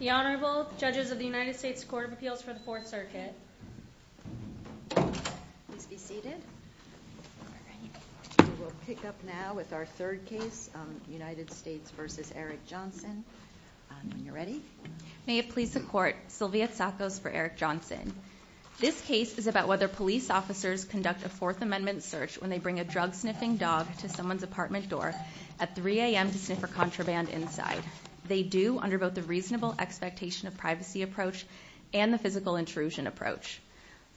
The Honorable Judges of the United States Court of Appeals for the Fourth Circuit. Please be seated. We will pick up now with our third case, United States v. Eric Johnson. When you're ready. May it please the Court, Sylvia Sacco for Eric Johnson. This case is about whether police officers conduct a Fourth Amendment search when they bring a drug sniffing dog to someone's apartment door at 3 a.m. to sniff her contraband inside. They do under both the reasonable expectation of privacy approach and the physical intrusion approach.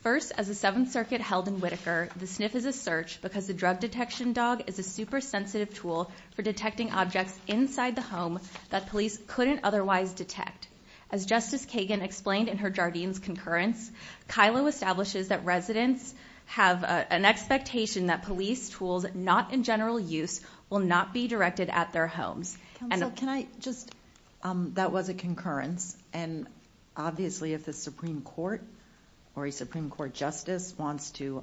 First, as the Seventh Circuit held in Whitaker, the sniff is a search because the drug detection dog is a super sensitive tool for detecting objects inside the home that police couldn't otherwise detect. As Justice Kagan explained in her Jardine's concurrence, Kilo establishes that residents have an expectation that police tools not in general use will not be directed at their homes. Counsel, can I just, that was a concurrence, and obviously if the Supreme Court or a Supreme Court Justice wants to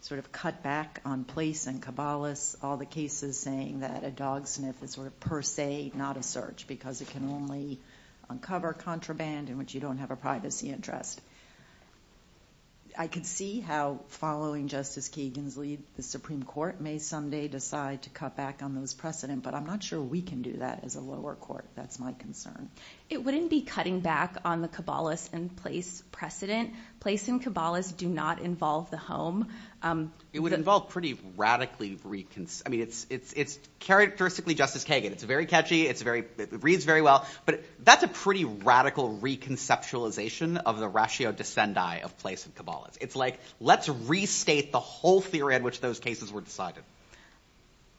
sort of cut back on police and Kabbalists, all the cases saying that a dog sniff is sort of per se not a search because it can only uncover contraband in which you don't have a privacy interest. I could see how following Justice Kagan's lead, the Supreme Court may someday decide to cut back on those precedent, but I'm not sure we can do that as a lower court. That's my concern. It wouldn't be cutting back on the Kabbalist and police precedent. Police and Kabbalists do not involve the home. It would involve pretty radically, I mean, it's characteristically Justice Kagan. It's very catchy. It reads very well, but that's a pretty radical reconceptualization of the ratio descendi of police and Kabbalists. It's like let's restate the whole theory in which those cases were decided.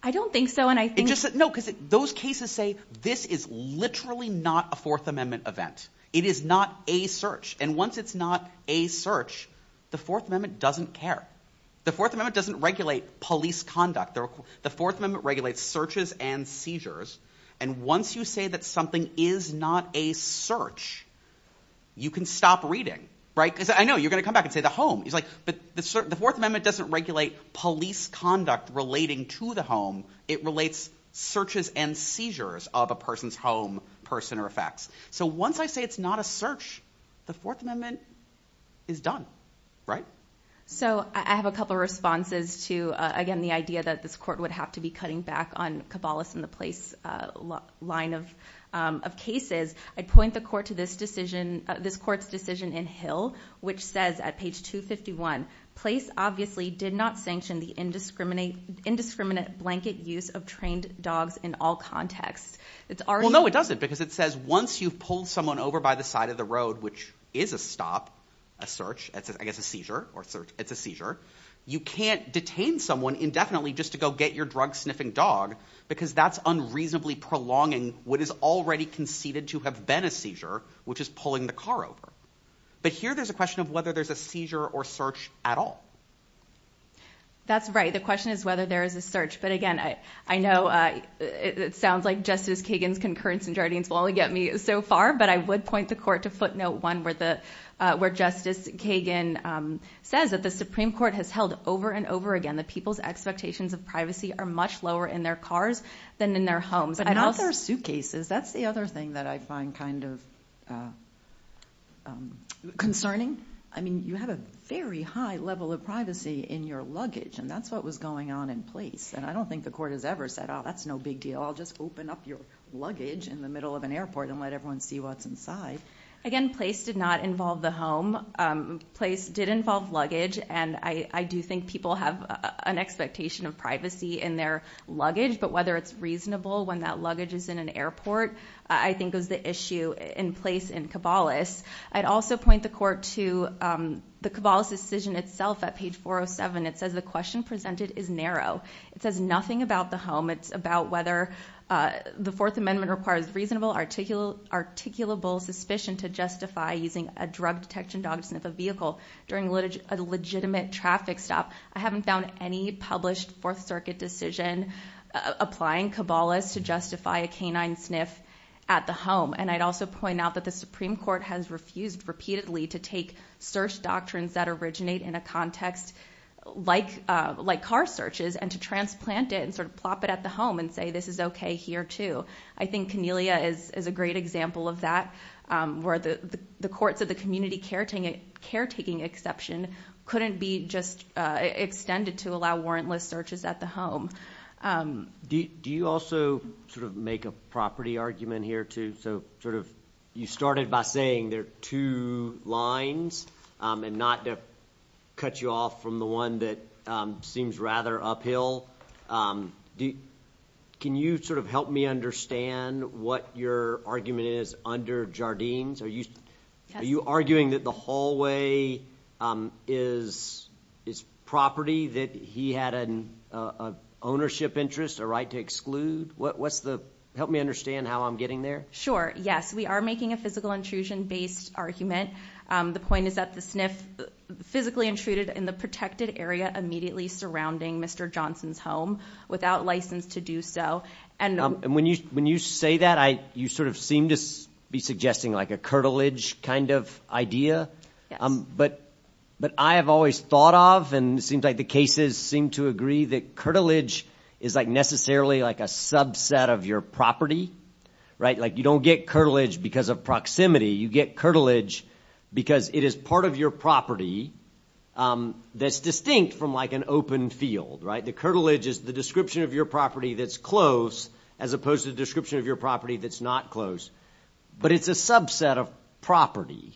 I don't think so, and I think... No, because those cases say this is literally not a Fourth Amendment event. It is not a search, and once it's not a search, the Fourth Amendment doesn't care. The Fourth Amendment doesn't regulate police conduct. The Fourth Amendment regulates searches and seizures, and once you say that something is not a search, you can stop reading, right? I know, you're going to come back and say the home. But the Fourth Amendment doesn't regulate police conduct relating to the home. It relates searches and seizures of a person's home, person, or effects. So once I say it's not a search, the Fourth Amendment is done, right? So I have a couple of responses to, again, the idea that this court would have to be cutting back on Kabbalists and the police line of cases. I'd point the court to this court's decision in Hill, which says at page 251, place obviously did not sanction the indiscriminate blanket use of trained dogs in all contexts. Well, no, it doesn't, because it says once you've pulled someone over by the side of the road, which is a stop, a search, I guess a seizure, or search, it's a seizure, you can't detain someone indefinitely just to go get your drug-sniffing dog because that's unreasonably prolonging what is already conceded to have been a seizure, which is pulling the car over. But here there's a question of whether there's a seizure or search at all. That's right. The question is whether there is a search. But again, I know it sounds like Justice Kagan's concurrence in Jardines will only get me so far, but I would point the court to footnote 1 where Justice Kagan says that the Supreme Court has held over and over again that people's expectations of privacy are much lower in their cars than in their homes. But not their suitcases. That's the other thing that I find kind of concerning. I mean, you have a very high level of privacy in your luggage, and that's what was going on in place. And I don't think the court has ever said, oh, that's no big deal, I'll just open up your luggage in the middle of an airport and let everyone see what's inside. Again, place did not involve the home. Place did involve luggage, and I do think people have an expectation of privacy in their luggage. But whether it's reasonable when that luggage is in an airport I think is the issue in place in Caballos. I'd also point the court to the Caballos decision itself at page 407. It says the question presented is narrow. It says nothing about the home. It's about whether the Fourth Amendment requires reasonable, articulable suspicion to justify using a drug detection dog to sniff a vehicle during a legitimate traffic stop. I haven't found any published Fourth Circuit decision applying Caballos to justify a canine sniff at the home. And I'd also point out that the Supreme Court has refused repeatedly to take search doctrines that originate in a context like car searches and to transplant it and sort of plop it at the home and say this is okay here too. I think Conellia is a great example of that where the courts of the community caretaking exception couldn't be just extended to allow warrantless searches at the home. Do you also sort of make a property argument here too? So you started by saying there are two lines and not to cut you off from the one that seems rather uphill. Can you sort of help me understand what your argument is under Jardines? Are you arguing that the hallway is property that he had an ownership interest, a right to exclude? Help me understand how I'm getting there. Sure. Yes, we are making a physical intrusion-based argument. The point is that the sniff physically intruded in the protected area immediately surrounding Mr. Johnson's home without license to do so. When you say that, you sort of seem to be suggesting like a curtilage kind of idea. Yes. But I have always thought of and it seems like the cases seem to agree that curtilage is like necessarily like a subset of your property, right? Like you don't get curtilage because of proximity. You get curtilage because it is part of your property that's distinct from like an open field, right? The curtilage is the description of your property that's close as opposed to the description of your property that's not close. But it's a subset of property,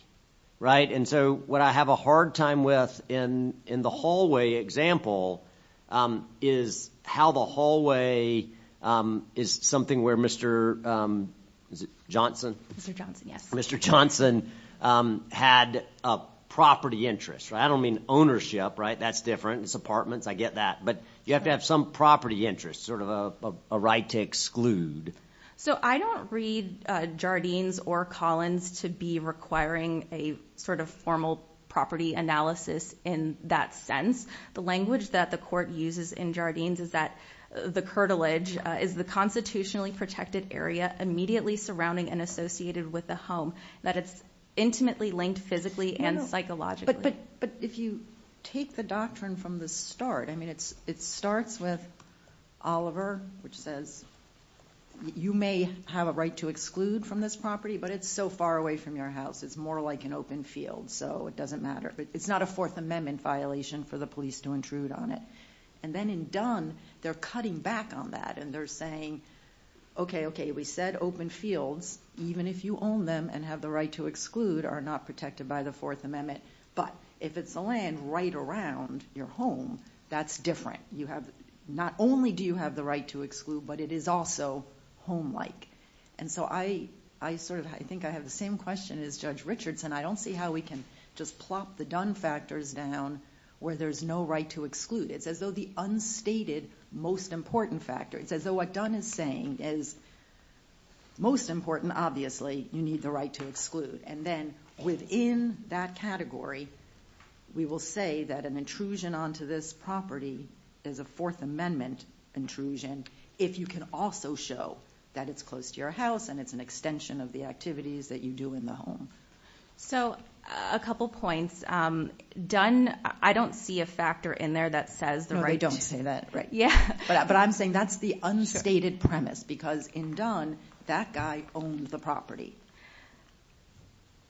right? And so what I have a hard time with in the hallway example is how the hallway is something where Mr. Johnson? Mr. Johnson, yes. I don't mean ownership, right? That's different. It's apartments. I get that. But you have to have some property interest, sort of a right to exclude. So I don't read Jardines or Collins to be requiring a sort of formal property analysis in that sense. The language that the court uses in Jardines is that the curtilage is the constitutionally protected area immediately surrounding and associated with the home, that it's intimately linked physically and psychologically. But if you take the doctrine from the start, I mean it starts with Oliver, which says you may have a right to exclude from this property, but it's so far away from your house. It's more like an open field, so it doesn't matter. It's not a Fourth Amendment violation for the police to intrude on it. And then in Dunn, they're cutting back on that, and they're saying, okay, okay, we said open fields, even if you own them and have the right to exclude, are not protected by the Fourth Amendment. But if it's a land right around your home, that's different. Not only do you have the right to exclude, but it is also home-like. And so I think I have the same question as Judge Richards, and I don't see how we can just plop the Dunn factors down where there's no right to exclude. It's as though the unstated most important factor, it's as though what Dunn is saying is most important, obviously, you need the right to exclude. And then within that category, we will say that an intrusion onto this property is a Fourth Amendment intrusion, if you can also show that it's close to your house and it's an extension of the activities that you do in the home. So a couple points. Dunn, I don't see a factor in there that says the right to exclude. No, they don't say that. But I'm saying that's the unstated premise, because in Dunn, that guy owned the property.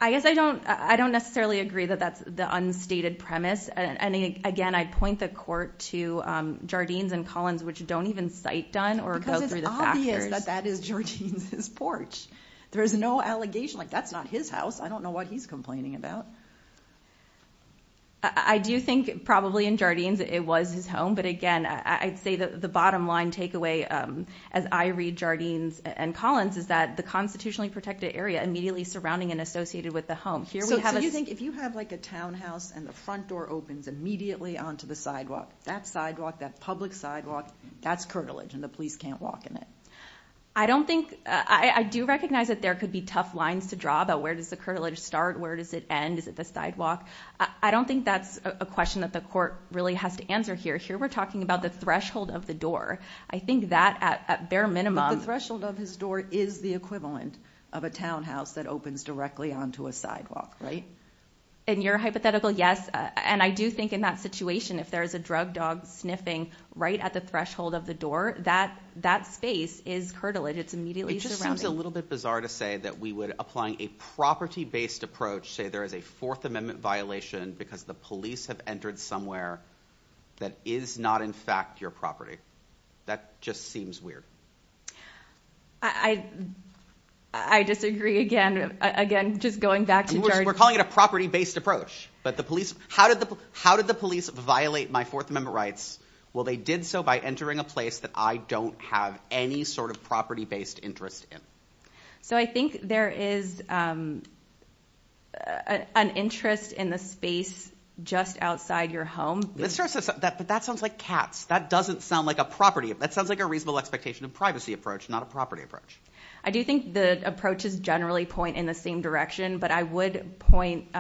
I guess I don't necessarily agree that that's the unstated premise. And again, I'd point the court to Jardines and Collins, which don't even cite Dunn or go through the factors. Because it's obvious that that is Jardines' porch. There's no allegation, like, that's not his house. I don't know what he's complaining about. I do think probably in Jardines it was his home. But again, I'd say that the bottom line takeaway, as I read Jardines and Collins, is that the constitutionally protected area immediately surrounding and associated with the home. So you think if you have, like, a townhouse and the front door opens immediately onto the sidewalk, that sidewalk, that public sidewalk, that's curtilage, and the police can't walk in it? I do recognize that there could be tough lines to draw about where does the curtilage start, where does it end, is it the sidewalk? I don't think that's a question that the court really has to answer here. Here we're talking about the threshold of the door. I think that, at bare minimum... The threshold of his door is the equivalent of a townhouse that opens directly onto a sidewalk, right? In your hypothetical, yes. And I do think in that situation, if there is a drug dog sniffing right at the threshold of the door, that space is curtilage. It's immediately surrounding. It just seems a little bit bizarre to say that we would, applying a property-based approach, say there is a Fourth Amendment violation because the police have entered somewhere that is not, in fact, your property. That just seems weird. I disagree again. Again, just going back to... We're calling it a property-based approach. But the police... How did the police violate my Fourth Amendment rights? Well, they did so by entering a place that I don't have any sort of property-based interest in. So I think there is... ..an interest in the space just outside your home. But that sounds like cats. That doesn't sound like a property. That sounds like a reasonable expectation of privacy approach, not a property approach. I do think the approaches generally point in the same direction. But I would point...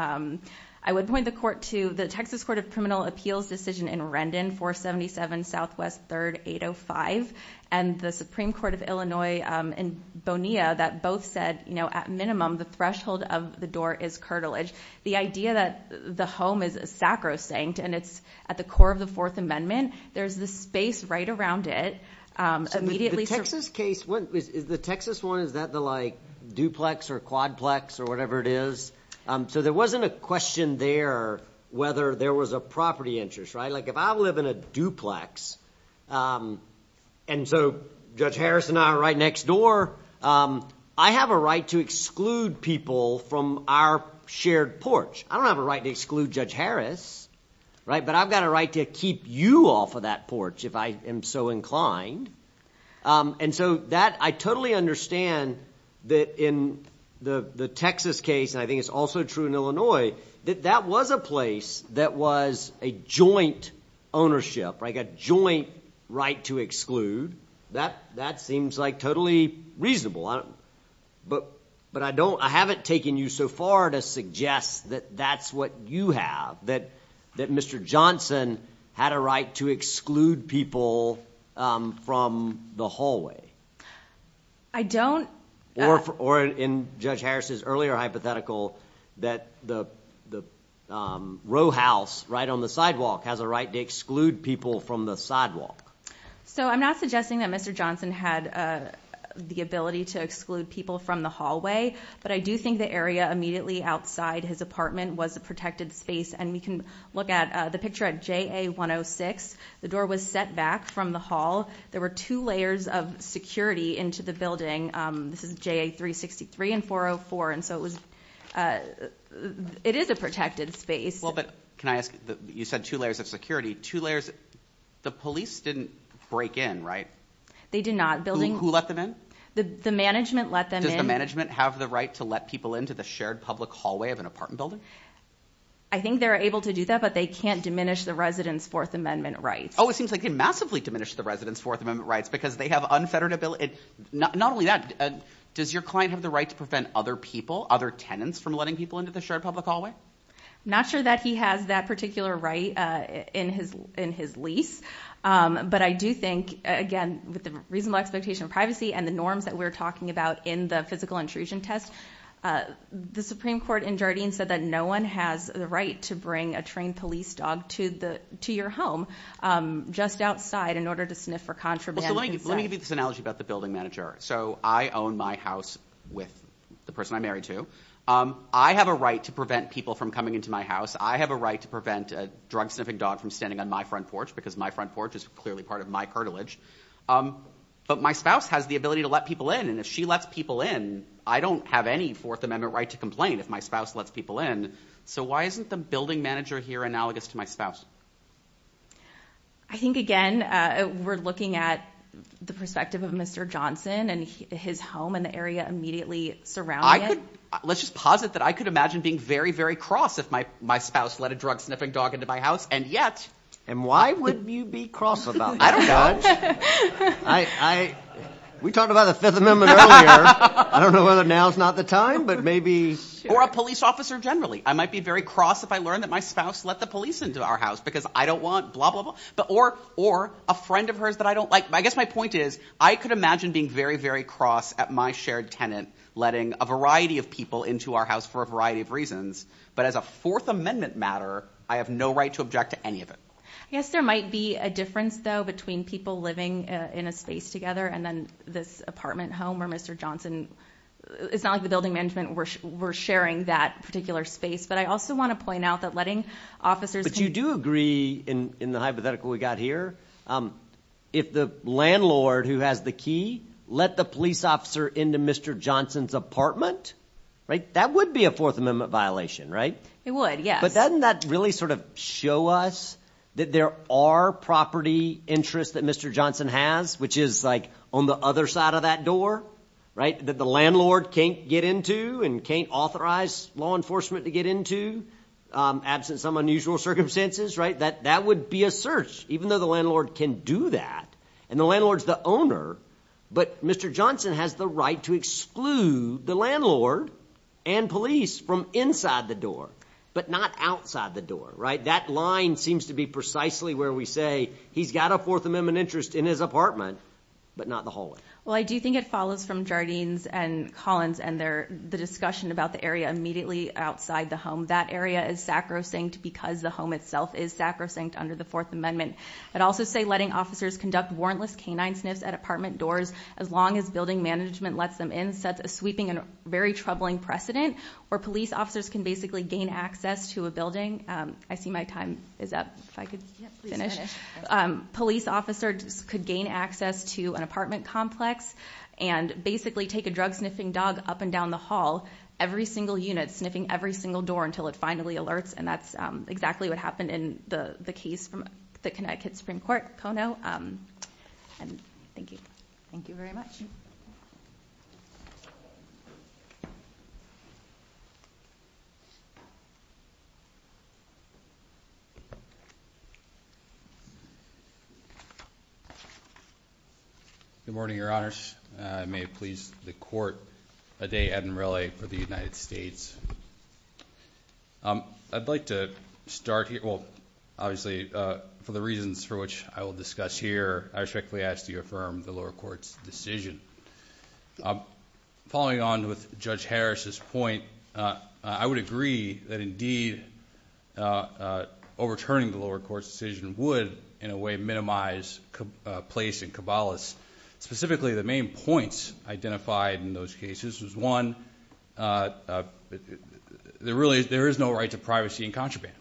I would point the court to the Texas Court of Criminal Appeals decision in Rendon, 477 Southwest 3rd 805, and the Supreme Court of Illinois in Bonilla that both said, you know, at minimum, the threshold of the door is curtilage. The idea that the home is sacrosanct and it's at the core of the Fourth Amendment, there's the space right around it, immediately... The Texas case... The Texas one, is that the, like, duplex or quadplex or whatever it is? So there wasn't a question there whether there was a property interest, right? Like, if I live in a duplex, and so Judge Harris and I are right next door, I have a right to exclude people from our shared porch. I don't have a right to exclude Judge Harris, right? But I've got a right to keep you off of that porch if I am so inclined. And so that... I totally understand that in the Texas case, and I think it's also true in Illinois, that that was a place that was a joint ownership, like a joint right to exclude. That seems, like, totally reasonable. But I don't... I haven't taken you so far to suggest that that's what you have, that Mr. Johnson had a right to exclude people from the hallway. I don't... Or in Judge Harris's earlier hypothetical, that the row house right on the sidewalk has a right to exclude people from the sidewalk. So I'm not suggesting that Mr. Johnson had the ability to exclude people from the hallway, but I do think the area immediately outside his apartment was a protected space, and we can look at the picture at JA-106. The door was set back from the hall. There were two layers of security into the building. This is JA-363 and 404, and so it was... It is a protected space. Well, but can I ask... You said two layers of security. Two layers... The police didn't break in, right? They did not. Who let them in? The management let them in. Does the management have the right to let people into the shared public hallway of an apartment building? I think they're able to do that, but they can't diminish the residents' Fourth Amendment rights. Oh, it seems like they massively diminished the residents' Fourth Amendment rights because they have unfettered ability... Not only that, does your client have the right to prevent other people, other tenants, from letting people into the shared public hallway? Not sure that he has that particular right in his lease, but I do think, again, with the reasonable expectation of privacy and the norms that we're talking about in the physical intrusion test, the Supreme Court in Jardine said that no one has the right to bring a trained police dog to your home just outside in order to sniff for contraband inside. Let me give you this analogy about the building manager. So I own my house with the person I'm married to. I have a right to prevent people from coming into my house. I have a right to prevent a drug-sniffing dog from standing on my front porch because my front porch is clearly part of my cartilage. But my spouse has the ability to let people in, and if she lets people in, I don't have any Fourth Amendment right to complain if my spouse lets people in. So why isn't the building manager here analogous to my spouse? I think, again, we're looking at the perspective of Mr. Johnson and his home and the area immediately surrounding it. Let's just posit that I could imagine being very, very cross if my spouse let a drug-sniffing dog into my house, and yet... And why would you be cross about that? I don't know. We talked about the Fifth Amendment earlier. I don't know whether now's not the time, but maybe... Or a police officer generally. I might be very cross if I learn that my spouse let the police into our house because I don't want blah, blah, blah. Or a friend of hers that I don't like. I guess my point is I could imagine being very, very cross at my shared tenant letting a variety of people into our house for a variety of reasons, but as a Fourth Amendment matter, I have no right to object to any of it. I guess there might be a difference, though, between people living in a space together and then this apartment home where Mr. Johnson... It's not like the building management were sharing that particular space, but I also want to point out that letting officers... But you do agree, in the hypothetical we got here, if the landlord, who has the key, let the police officer into Mr. Johnson's apartment, that would be a Fourth Amendment violation, right? It would, yes. But doesn't that really sort of show us that there are property interests that Mr. Johnson has, which is, like, on the other side of that door, right, that the landlord can't get into and can't authorize law enforcement to get into absent some unusual circumstances, right? That would be a search, even though the landlord can do that. And the landlord's the owner, but Mr. Johnson has the right to exclude the landlord and police from inside the door, but not outside the door, right? That line seems to be precisely where we say he's got a Fourth Amendment interest in his apartment, but not the hallway. Well, I do think it follows from Jardine's and Collins' and the discussion about the area immediately outside the home. That area is sacrosanct because the home itself is sacrosanct under the Fourth Amendment. I'd also say letting officers conduct warrantless canine sniffs at apartment doors, as long as building management lets them in, sets a sweeping and very troubling precedent where police officers can basically gain access to a building. I see my time is up. If I could finish. Police officers could gain access to an apartment complex and basically take a drug-sniffing dog up and down the hall, every single unit, sniffing every single door until it finally alerts, and that's exactly what happened in the case from the Connecticut Supreme Court, Kono. And thank you. Thank you very much. Good morning, Your Honors. May it please the Court, a day at and relay for the United States. I'd like to start here. Well, obviously, for the reasons for which I will discuss here, I respectfully ask that you affirm the lower court's decision. Following on with Judge Harris's point, I would agree that, indeed, overturning the lower court's decision would, in a way, minimize a place in Caballos. Specifically, the main points identified in those cases was, one, there really is no right to privacy in contraband.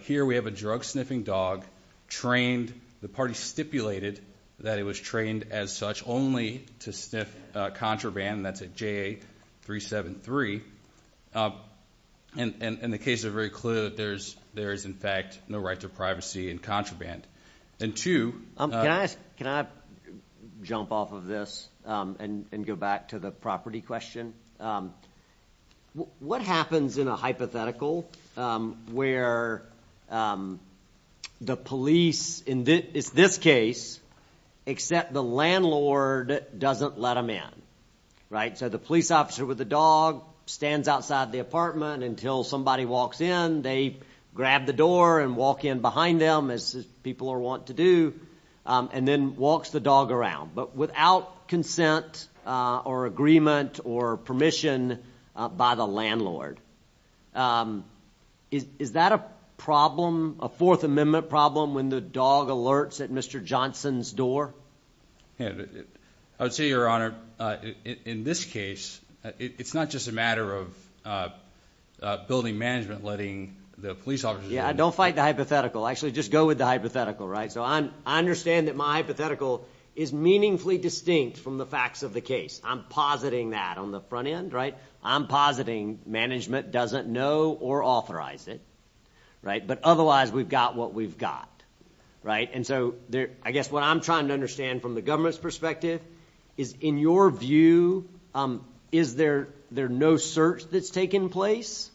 Here we have a drug-sniffing dog trained. The party stipulated that it was trained as such only to sniff contraband, and that's at JA-373. And the cases are very clear that there is, in fact, no right to privacy in contraband. And, two, Can I jump off of this and go back to the property question? What happens in a hypothetical where the police, in this case, except the landlord doesn't let them in, right? So the police officer with the dog stands outside the apartment until somebody walks in. They grab the door and walk in behind them, as people want to do, and then walks the dog around, but without consent or agreement or permission by the landlord. Is that a problem, a Fourth Amendment problem, when the dog alerts at Mr. Johnson's door? I would say, Your Honor, in this case, it's not just a matter of building management, letting the police officers in. Yeah, don't fight the hypothetical. Actually, just go with the hypothetical, right? So I understand that my hypothetical is meaningfully distinct from the facts of the case. I'm positing that on the front end, right? I'm positing management doesn't know or authorize it, right? But otherwise, we've got what we've got, right? And so I guess what I'm trying to understand from the government's perspective is, in your view, is there no search that's taken place?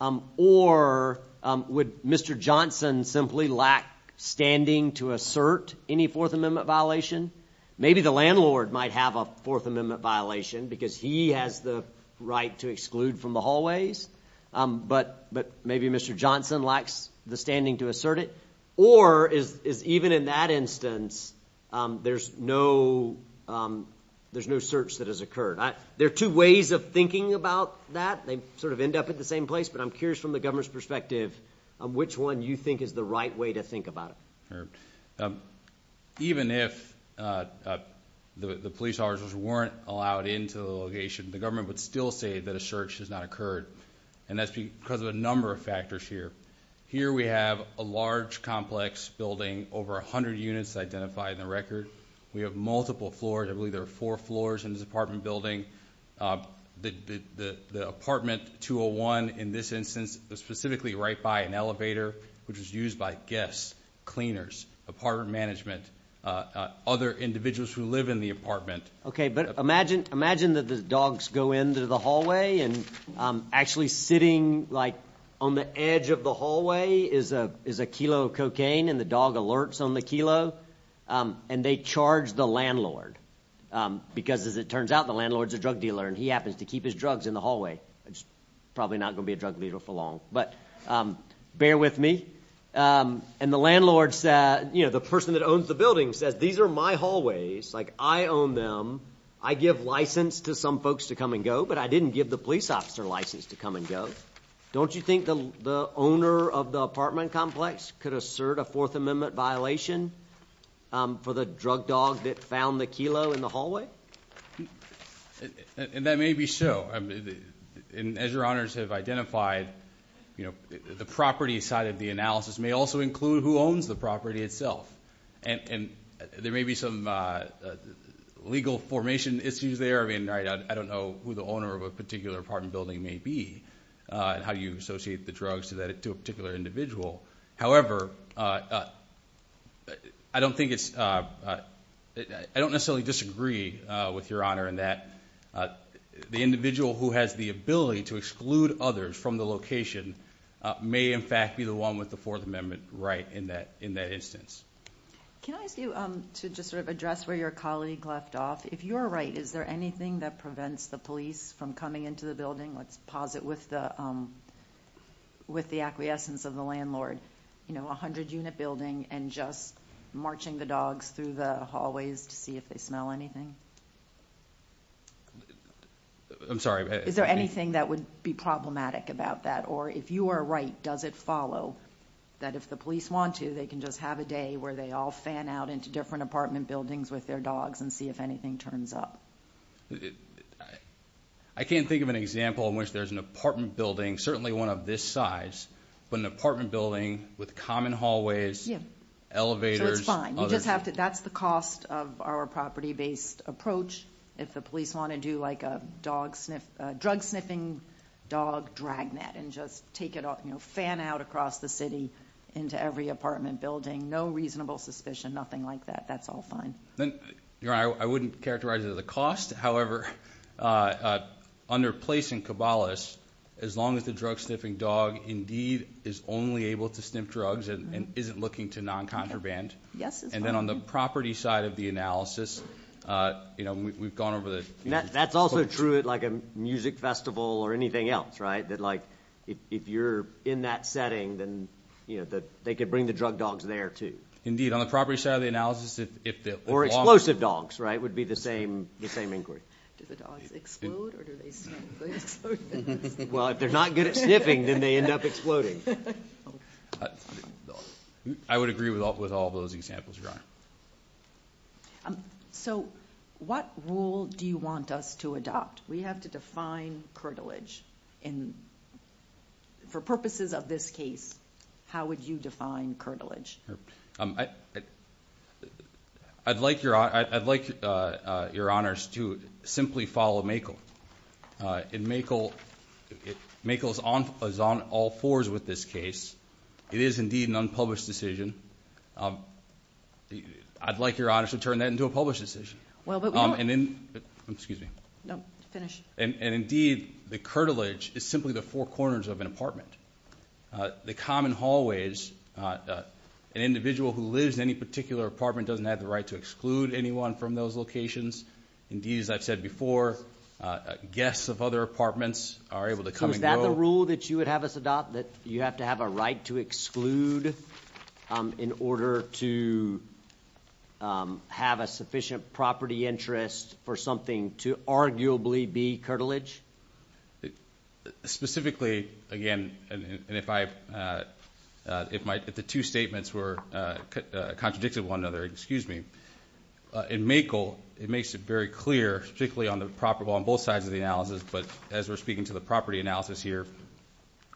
Or would Mr. Johnson simply lack standing to assert any Fourth Amendment violation? Maybe the landlord might have a Fourth Amendment violation because he has the right to exclude from the hallways, but maybe Mr. Johnson lacks the standing to assert it? Or is even in that instance, there's no search that has occurred? There are two ways of thinking about that. They sort of end up at the same place, but I'm curious from the government's perspective, which one you think is the right way to think about it. Even if the police officers weren't allowed into the location, the government would still say that a search has not occurred, and that's because of a number of factors here. Here we have a large complex building, over 100 units identified in the record. We have multiple floors. I believe there are four floors in this apartment building. The apartment 201 in this instance was specifically right by an elevator, which was used by guests, cleaners, apartment management, other individuals who live in the apartment. Okay, but imagine that the dogs go into the hallway, and actually sitting, like, on the edge of the hallway is a kilo of cocaine, and the dog alerts on the kilo, and they charge the landlord. Because as it turns out, the landlord's a drug dealer, and he happens to keep his drugs in the hallway. Probably not going to be a drug dealer for long, but bear with me. And the landlord's, you know, the person that owns the building says, These are my hallways. Like, I own them. I give license to some folks to come and go, but I didn't give the police officer license to come and go. Don't you think the owner of the apartment complex could assert a Fourth Amendment violation for the drug dog that found the kilo in the hallway? And that may be so. And as your honors have identified, you know, the property side of the analysis may also include who owns the property itself. And there may be some legal formation issues there. I mean, I don't know who the owner of a particular apartment building may be and how you associate the drugs to a particular individual. However, I don't necessarily disagree with your honor in that the individual who has the ability to exclude others from the location may, in fact, be the one with the Fourth Amendment right in that instance. Can I ask you to just sort of address where your colleague left off? If you are right, is there anything that prevents the police from coming into the building? Let's pause it with the acquiescence of the landlord. You know, a hundred-unit building and just marching the dogs through the hallways to see if they smell anything? I'm sorry. Is there anything that would be problematic about that? Or if you are right, does it follow that if the police want to, they can just have a day where they all fan out into different apartment buildings with their dogs and see if anything turns up? I can't think of an example in which there's an apartment building, certainly one of this size, but an apartment building with common hallways, elevators, others. So it's fine. That's the cost of our property-based approach. If the police want to do like a drug-sniffing dog dragnet and just fan out across the city into every apartment building, no reasonable suspicion, nothing like that, that's all fine. Your Honor, I wouldn't characterize it as a cost. However, under placing cabalists, as long as the drug-sniffing dog indeed is only able to sniff drugs and isn't looking to non-contraband, and then on the property side of the analysis, you know, we've gone over the ______. That's also true at like a music festival or anything else, right, that like if you're in that setting, then, you know, they could bring the drug dogs there too. Indeed. On the property side of the analysis, if the ______. Or explosive dogs, right, would be the same inquiry. Do the dogs explode or do they sniff? Well, if they're not good at sniffing, then they end up exploding. I would agree with all of those examples, Your Honor. So what rule do you want us to adopt? We have to define curtilage. For purposes of this case, how would you define curtilage? I'd like Your Honors to simply follow Makel. In Makel, Makel is on all fours with this case. It is indeed an unpublished decision. I'd like Your Honors to turn that into a published decision. Well, but we don't ______. Excuse me. No, finish. And indeed, the curtilage is simply the four corners of an apartment. The common hallways, an individual who lives in any particular apartment doesn't have the right to exclude anyone from those locations. Indeed, as I've said before, guests of other apartments are able to come and go. So is that the rule that you would have us adopt, that you have to have a right to exclude in order to have a sufficient property interest for something to arguably be curtilage? Specifically, again, and if the two statements were contradictory to one another, in Makel, it makes it very clear, particularly on both sides of the analysis, but as we're speaking to the property analysis here,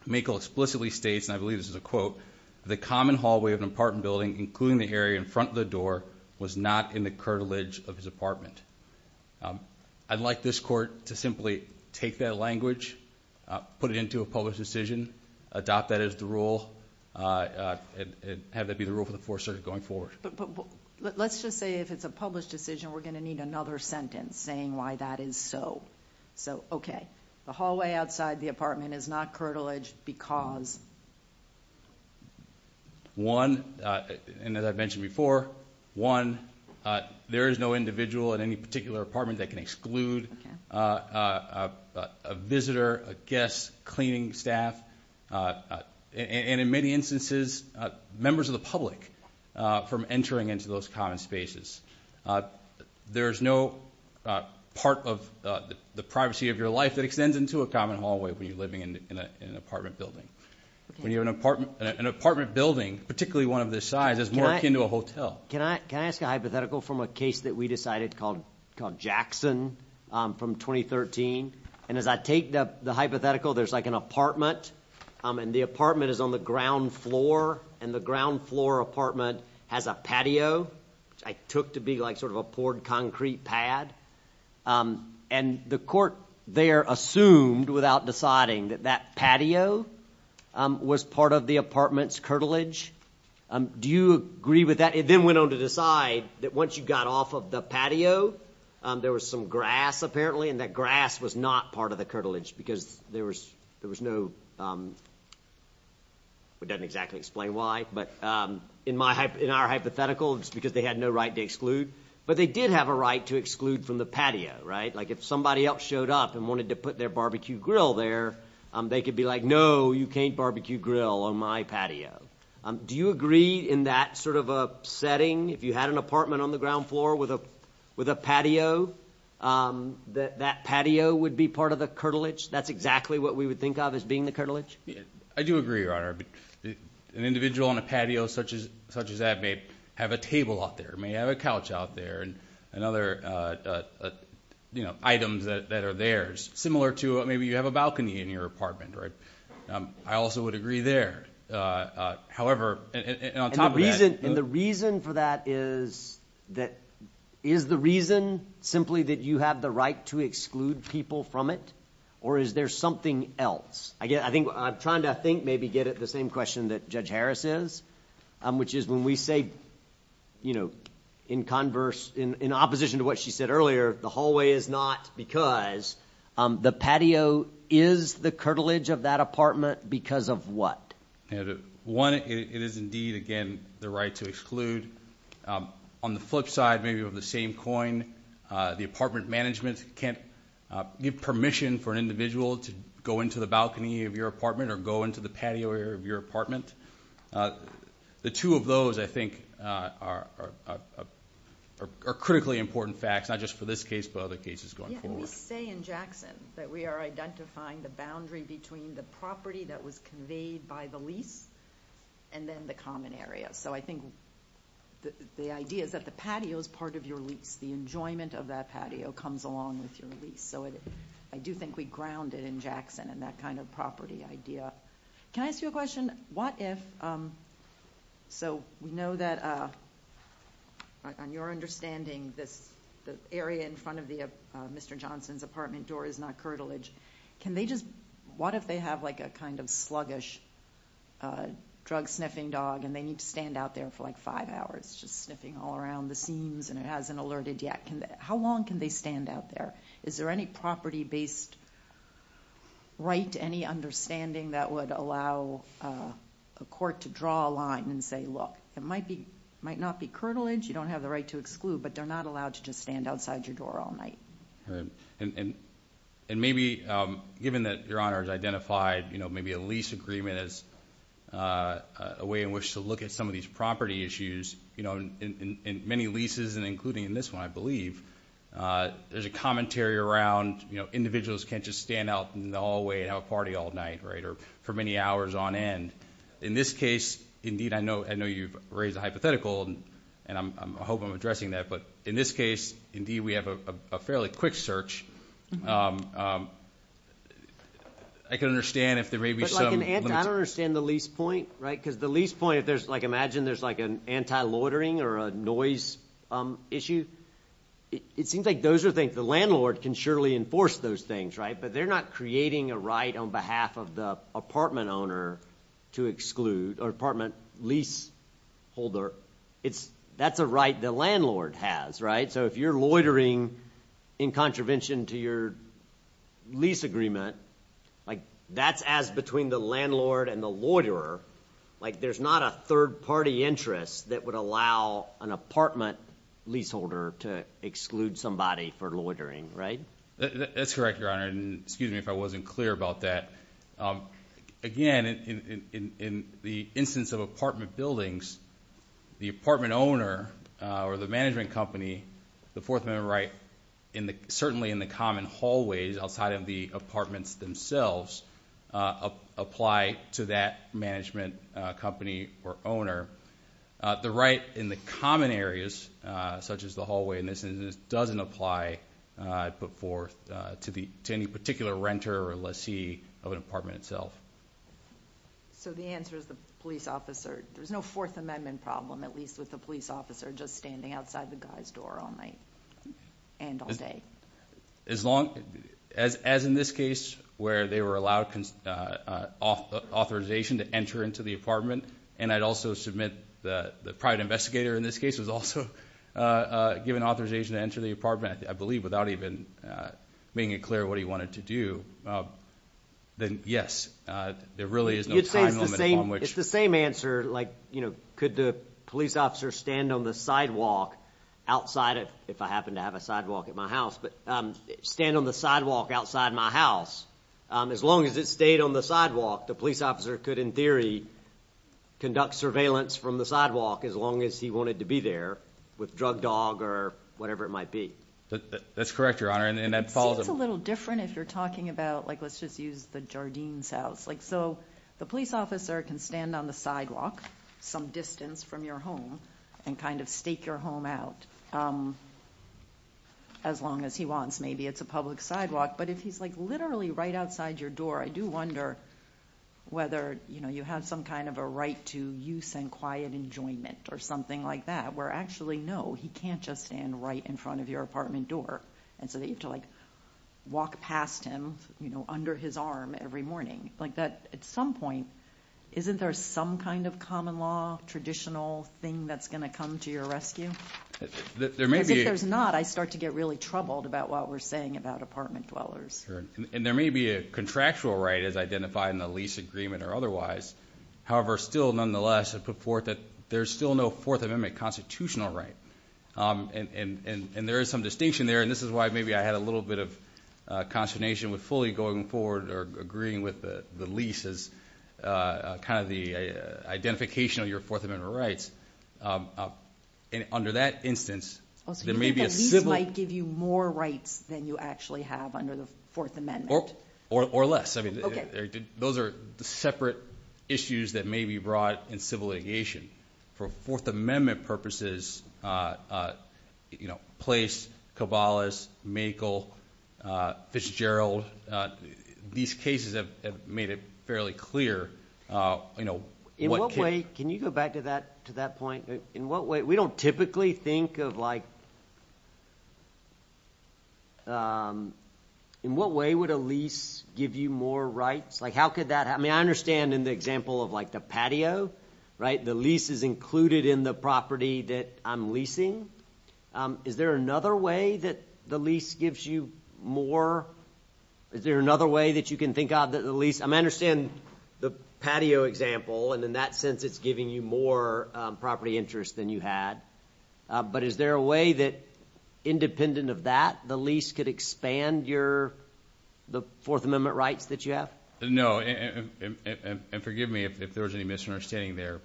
Makel explicitly states, and I believe this is a quote, the common hallway of an apartment building, including the area in front of the door, was not in the curtilage of his apartment. I'd like this Court to simply take that language, put it into a published decision, adopt that as the rule, and have that be the rule for the Fourth Circuit going forward. But let's just say if it's a published decision, we're going to need another sentence saying why that is so. So, okay, the hallway outside the apartment is not curtilage because? One, and as I've mentioned before, one, there is no individual in any particular apartment that can exclude a visitor, a guest, cleaning staff, and in many instances, members of the public from entering into those common spaces. There is no part of the privacy of your life that extends into a common hallway when you're living in an apartment building. When you have an apartment building, particularly one of this size, is more akin to a hotel. Can I ask a hypothetical from a case that we decided called Jackson from 2013? And as I take the hypothetical, there's like an apartment, and the apartment is on the ground floor, and the ground floor apartment has a patio, which I took to be like sort of a poured concrete pad. And the court there assumed, without deciding, that that patio was part of the apartment's curtilage. Do you agree with that? It then went on to decide that once you got off of the patio, there was some grass apparently, and that grass was not part of the curtilage because there was no—it doesn't exactly explain why, but in our hypothetical, it's because they had no right to exclude. But they did have a right to exclude from the patio, right? Like if somebody else showed up and wanted to put their barbecue grill there, they could be like, no, you can't barbecue grill on my patio. Do you agree in that sort of a setting, if you had an apartment on the ground floor with a patio, that that patio would be part of the curtilage? That's exactly what we would think of as being the curtilage? I do agree, Your Honor. An individual on a patio such as that may have a table out there, may have a couch out there and other items that are theirs, similar to maybe you have a balcony in your apartment, right? I also would agree there. However, and on top of that— is the reason simply that you have the right to exclude people from it, or is there something else? I'm trying to, I think, maybe get at the same question that Judge Harris is, which is when we say in converse—in opposition to what she said earlier, the hallway is not because the patio is the curtilage of that apartment because of what? One, it is indeed, again, the right to exclude. On the flip side, maybe with the same coin, the apartment management can't give permission for an individual to go into the balcony of your apartment or go into the patio area of your apartment. The two of those, I think, are critically important facts, not just for this case but other cases going forward. We say in Jackson that we are identifying the boundary between the property that was conveyed by the lease and then the common area. So I think the idea is that the patio is part of your lease. The enjoyment of that patio comes along with your lease. So I do think we ground it in Jackson in that kind of property idea. Can I ask you a question? What if—so we know that, on your understanding, the area in front of Mr. Johnson's apartment door is not curtilage. Can they just—what if they have like a kind of sluggish drug-sniffing dog and they need to stand out there for like five hours just sniffing all around the seams and it hasn't alerted yet? How long can they stand out there? Is there any property-based right to any understanding that would allow a court to draw a line and say, look, it might not be curtilage, you don't have the right to exclude, but they're not allowed to just stand outside your door all night. And maybe, given that Your Honor has identified maybe a lease agreement as a way in which to look at some of these property issues, in many leases and including in this one, I believe, there's a commentary around individuals can't just stand out in the hallway and have a party all night or for many hours on end. In this case, indeed, I know you've raised a hypothetical, and I hope I'm addressing that, but in this case, indeed, we have a fairly quick search. I can understand if there may be some— I don't understand the lease point, right? Because the lease point, if there's like—imagine there's like an anti-loitering or a noise issue. It seems like those are things the landlord can surely enforce those things, right? But they're not creating a right on behalf of the apartment owner to exclude or apartment leaseholder. That's a right the landlord has, right? So if you're loitering in contravention to your lease agreement, that's as between the landlord and the loiterer. There's not a third-party interest that would allow an apartment leaseholder to exclude somebody for loitering, right? That's correct, Your Honor, and excuse me if I wasn't clear about that. Again, in the instance of apartment buildings, the apartment owner or the management company, the Fourth Amendment right, certainly in the common hallways outside of the apartments themselves, apply to that management company or owner. The right in the common areas, such as the hallway in this instance, doesn't apply put forth to any particular renter or lessee of an apartment itself. So the answer is the police officer—there's no Fourth Amendment problem, at least with the police officer just standing outside the guy's door all night and all day. As long—as in this case where they were allowed authorization to enter into the apartment, and I'd also submit that the private investigator in this case was also given authorization to enter the apartment, I believe, without even making it clear what he wanted to do, then yes, there really is no time limit on which— You'd say it's the same answer, like, you know, could the police officer stand on the sidewalk outside of— if I happen to have a sidewalk at my house, but stand on the sidewalk outside my house. As long as it stayed on the sidewalk, the police officer could in theory conduct surveillance from the sidewalk as long as he wanted to be there with drug dog or whatever it might be. That's correct, Your Honor, and that falls— It's a little different if you're talking about, like, let's just use the Jardines house. Like, so the police officer can stand on the sidewalk some distance from your home and kind of stake your home out as long as he wants. Maybe it's a public sidewalk, but if he's, like, literally right outside your door, I do wonder whether, you know, you have some kind of a right to use and quiet enjoyment or something like that, where actually, no, he can't just stand right in front of your apartment door, and so you have to, like, walk past him, you know, under his arm every morning. Like, at some point, isn't there some kind of common law, traditional thing that's going to come to your rescue? Because if there's not, I start to get really troubled about what we're saying about apartment dwellers. And there may be a contractual right as identified in the lease agreement or otherwise. However, still, nonetheless, there's still no Fourth Amendment constitutional right, and there is some distinction there, and this is why maybe I had a little bit of consternation with fully going forward or agreeing with the lease as kind of the identification of your Fourth Amendment rights. And under that instance, there may be a civil— Oh, so you think that lease might give you more rights than you actually have under the Fourth Amendment? Or less. I mean, those are separate issues that may be brought in civil litigation. For Fourth Amendment purposes, you know, Place, Cabalas, Makel, Fitzgerald, these cases have made it fairly clear, you know— In what way—can you go back to that point? In what way—we don't typically think of, like—in what way would a lease give you more rights? Like, how could that—I mean, I understand in the example of, like, the patio, right? The lease is included in the property that I'm leasing. Is there another way that the lease gives you more—is there another way that you can think of that the lease— I mean, I understand the patio example, and in that sense, it's giving you more property interest than you had. But is there a way that, independent of that, the lease could expand your—the Fourth Amendment rights that you have? No, and forgive me if there was any misunderstanding there.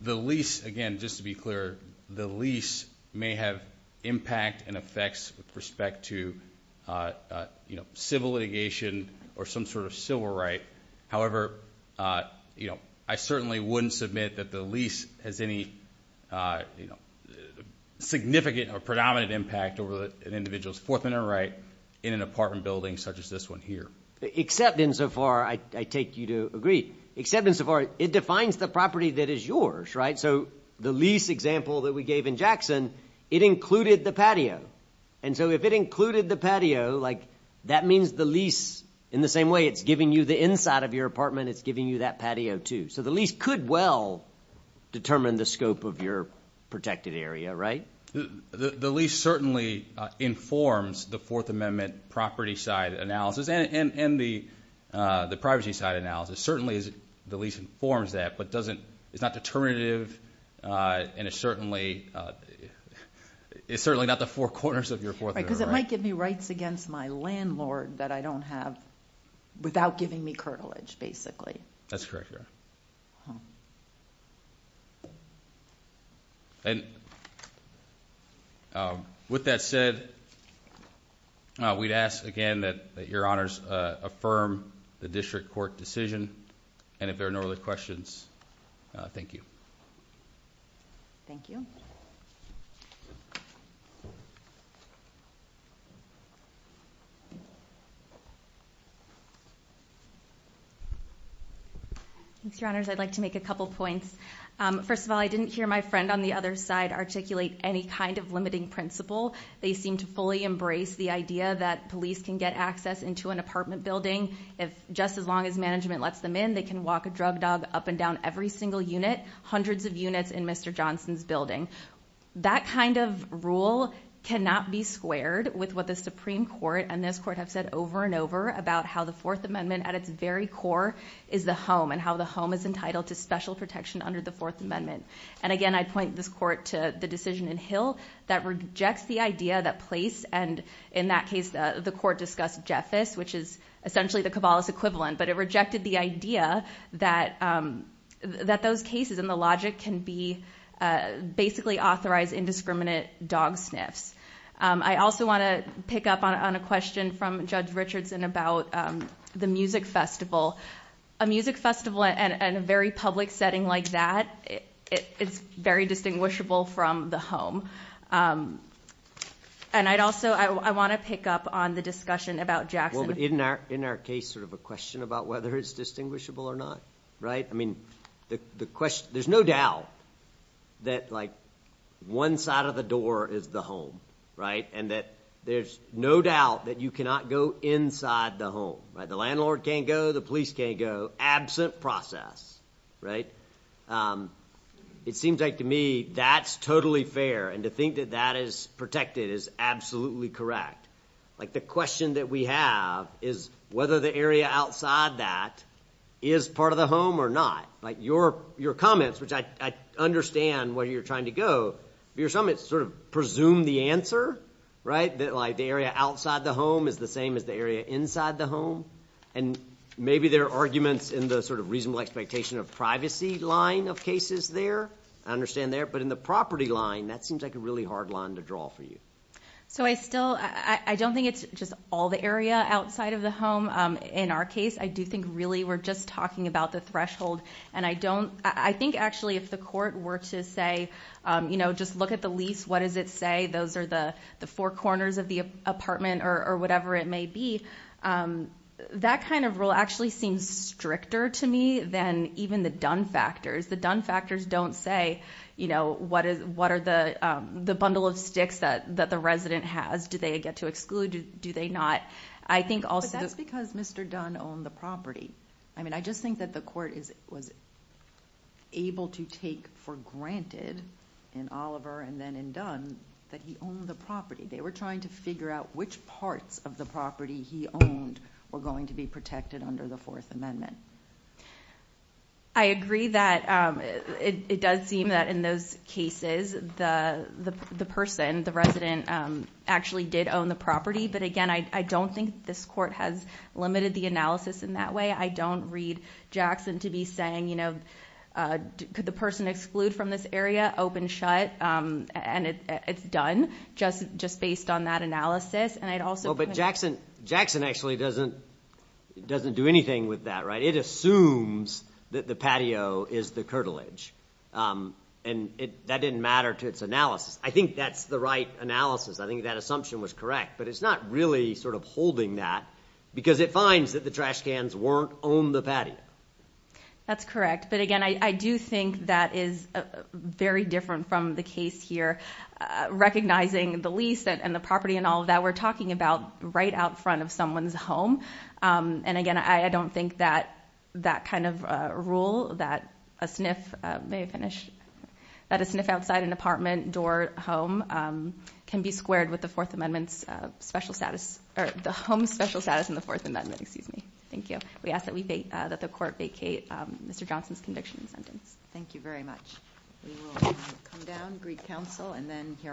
The lease—again, just to be clear, the lease may have impact and effects with respect to, you know, civil litigation or some sort of civil right. However, you know, I certainly wouldn't submit that the lease has any significant or predominant impact over an individual's Fourth Amendment right in an apartment building such as this one here. Except insofar—I take you to agree. Except insofar, it defines the property that is yours, right? So the lease example that we gave in Jackson, it included the patio. And so if it included the patio, like, that means the lease—in the same way, it's giving you the inside of your apartment, it's giving you that patio too. So the lease could well determine the scope of your protected area, right? The lease certainly informs the Fourth Amendment property side analysis and the privacy side analysis. Certainly, the lease informs that, but it doesn't—it's not determinative, and it certainly—it's certainly not the four corners of your Fourth Amendment right. Right, because it might give me rights against my landlord that I don't have without giving me curtilage, basically. That's correct, yeah. And with that said, we'd ask again that Your Honors affirm the district court decision, and if there are no other questions, thank you. Thank you. Thank you. Your Honors, I'd like to make a couple points. First of all, I didn't hear my friend on the other side articulate any kind of limiting principle. They seem to fully embrace the idea that police can get access into an apartment building if—just as long as management lets them in. They can walk a drug dog up and down every single unit, hundreds of units in Mr. Johnson's building. That kind of rule cannot be squared with what the Supreme Court and this Court have said over and over about how the Fourth Amendment, at its very core, is the home, and how the home is entitled to special protection under the Fourth Amendment. And again, I'd point this Court to the decision in Hill that rejects the idea that police—and in that case, the Court discussed Jeffis, which is essentially the Caballos equivalent, but it rejected the idea that those cases and the logic can be basically authorized indiscriminate dog sniffs. I also want to pick up on a question from Judge Richardson about the music festival. A music festival in a very public setting like that, it's very distinguishable from the home. And I'd also—I want to pick up on the discussion about Jackson. Well, in our case, sort of a question about whether it's distinguishable or not, right? I mean, the question—there's no doubt that, like, one side of the door is the home, right? And that there's no doubt that you cannot go inside the home, right? The landlord can't go. The police can't go. Absent process, right? It seems like to me that's totally fair. And to think that that is protected is absolutely correct. Like, the question that we have is whether the area outside that is part of the home or not. Like, your comments, which I understand where you're trying to go, but you're trying to sort of presume the answer, right? That, like, the area outside the home is the same as the area inside the home. And maybe there are arguments in the sort of reasonable expectation of privacy line of cases there. I understand there. But in the property line, that seems like a really hard line to draw for you. So I still—I don't think it's just all the area outside of the home. In our case, I do think really we're just talking about the threshold. And I don't—I think actually if the court were to say, you know, just look at the lease, what does it say? Those are the four corners of the apartment or whatever it may be. That kind of rule actually seems stricter to me than even the Dunn factors. The Dunn factors don't say, you know, what are the bundle of sticks that the resident has? Do they get to exclude? Do they not? I think also— But that's because Mr. Dunn owned the property. I mean, I just think that the court was able to take for granted in Oliver and then in Dunn that he owned the property. They were trying to figure out which parts of the property he owned were going to be protected under the Fourth Amendment. I agree that it does seem that in those cases the person, the resident, actually did own the property. But again, I don't think this court has limited the analysis in that way. I don't read Jackson to be saying, you know, could the person exclude from this area? And it's done just based on that analysis. But Jackson actually doesn't do anything with that, right? It assumes that the patio is the curtilage, and that didn't matter to its analysis. I think that's the right analysis. I think that assumption was correct, but it's not really sort of holding that because it finds that the trash cans weren't on the patio. That's correct. But again, I do think that is very different from the case here. Recognizing the lease and the property and all of that, we're talking about right out front of someone's home. And again, I don't think that that kind of rule, that a sniff outside an apartment, door, home, can be squared with the Fourth Amendment's special status, or the home's special status in the Fourth Amendment. Excuse me. Thank you. We ask that the court vacate Mr. Johnson's conviction and sentence. Thank you very much. We will come down, greet counsel, and then hear our final case.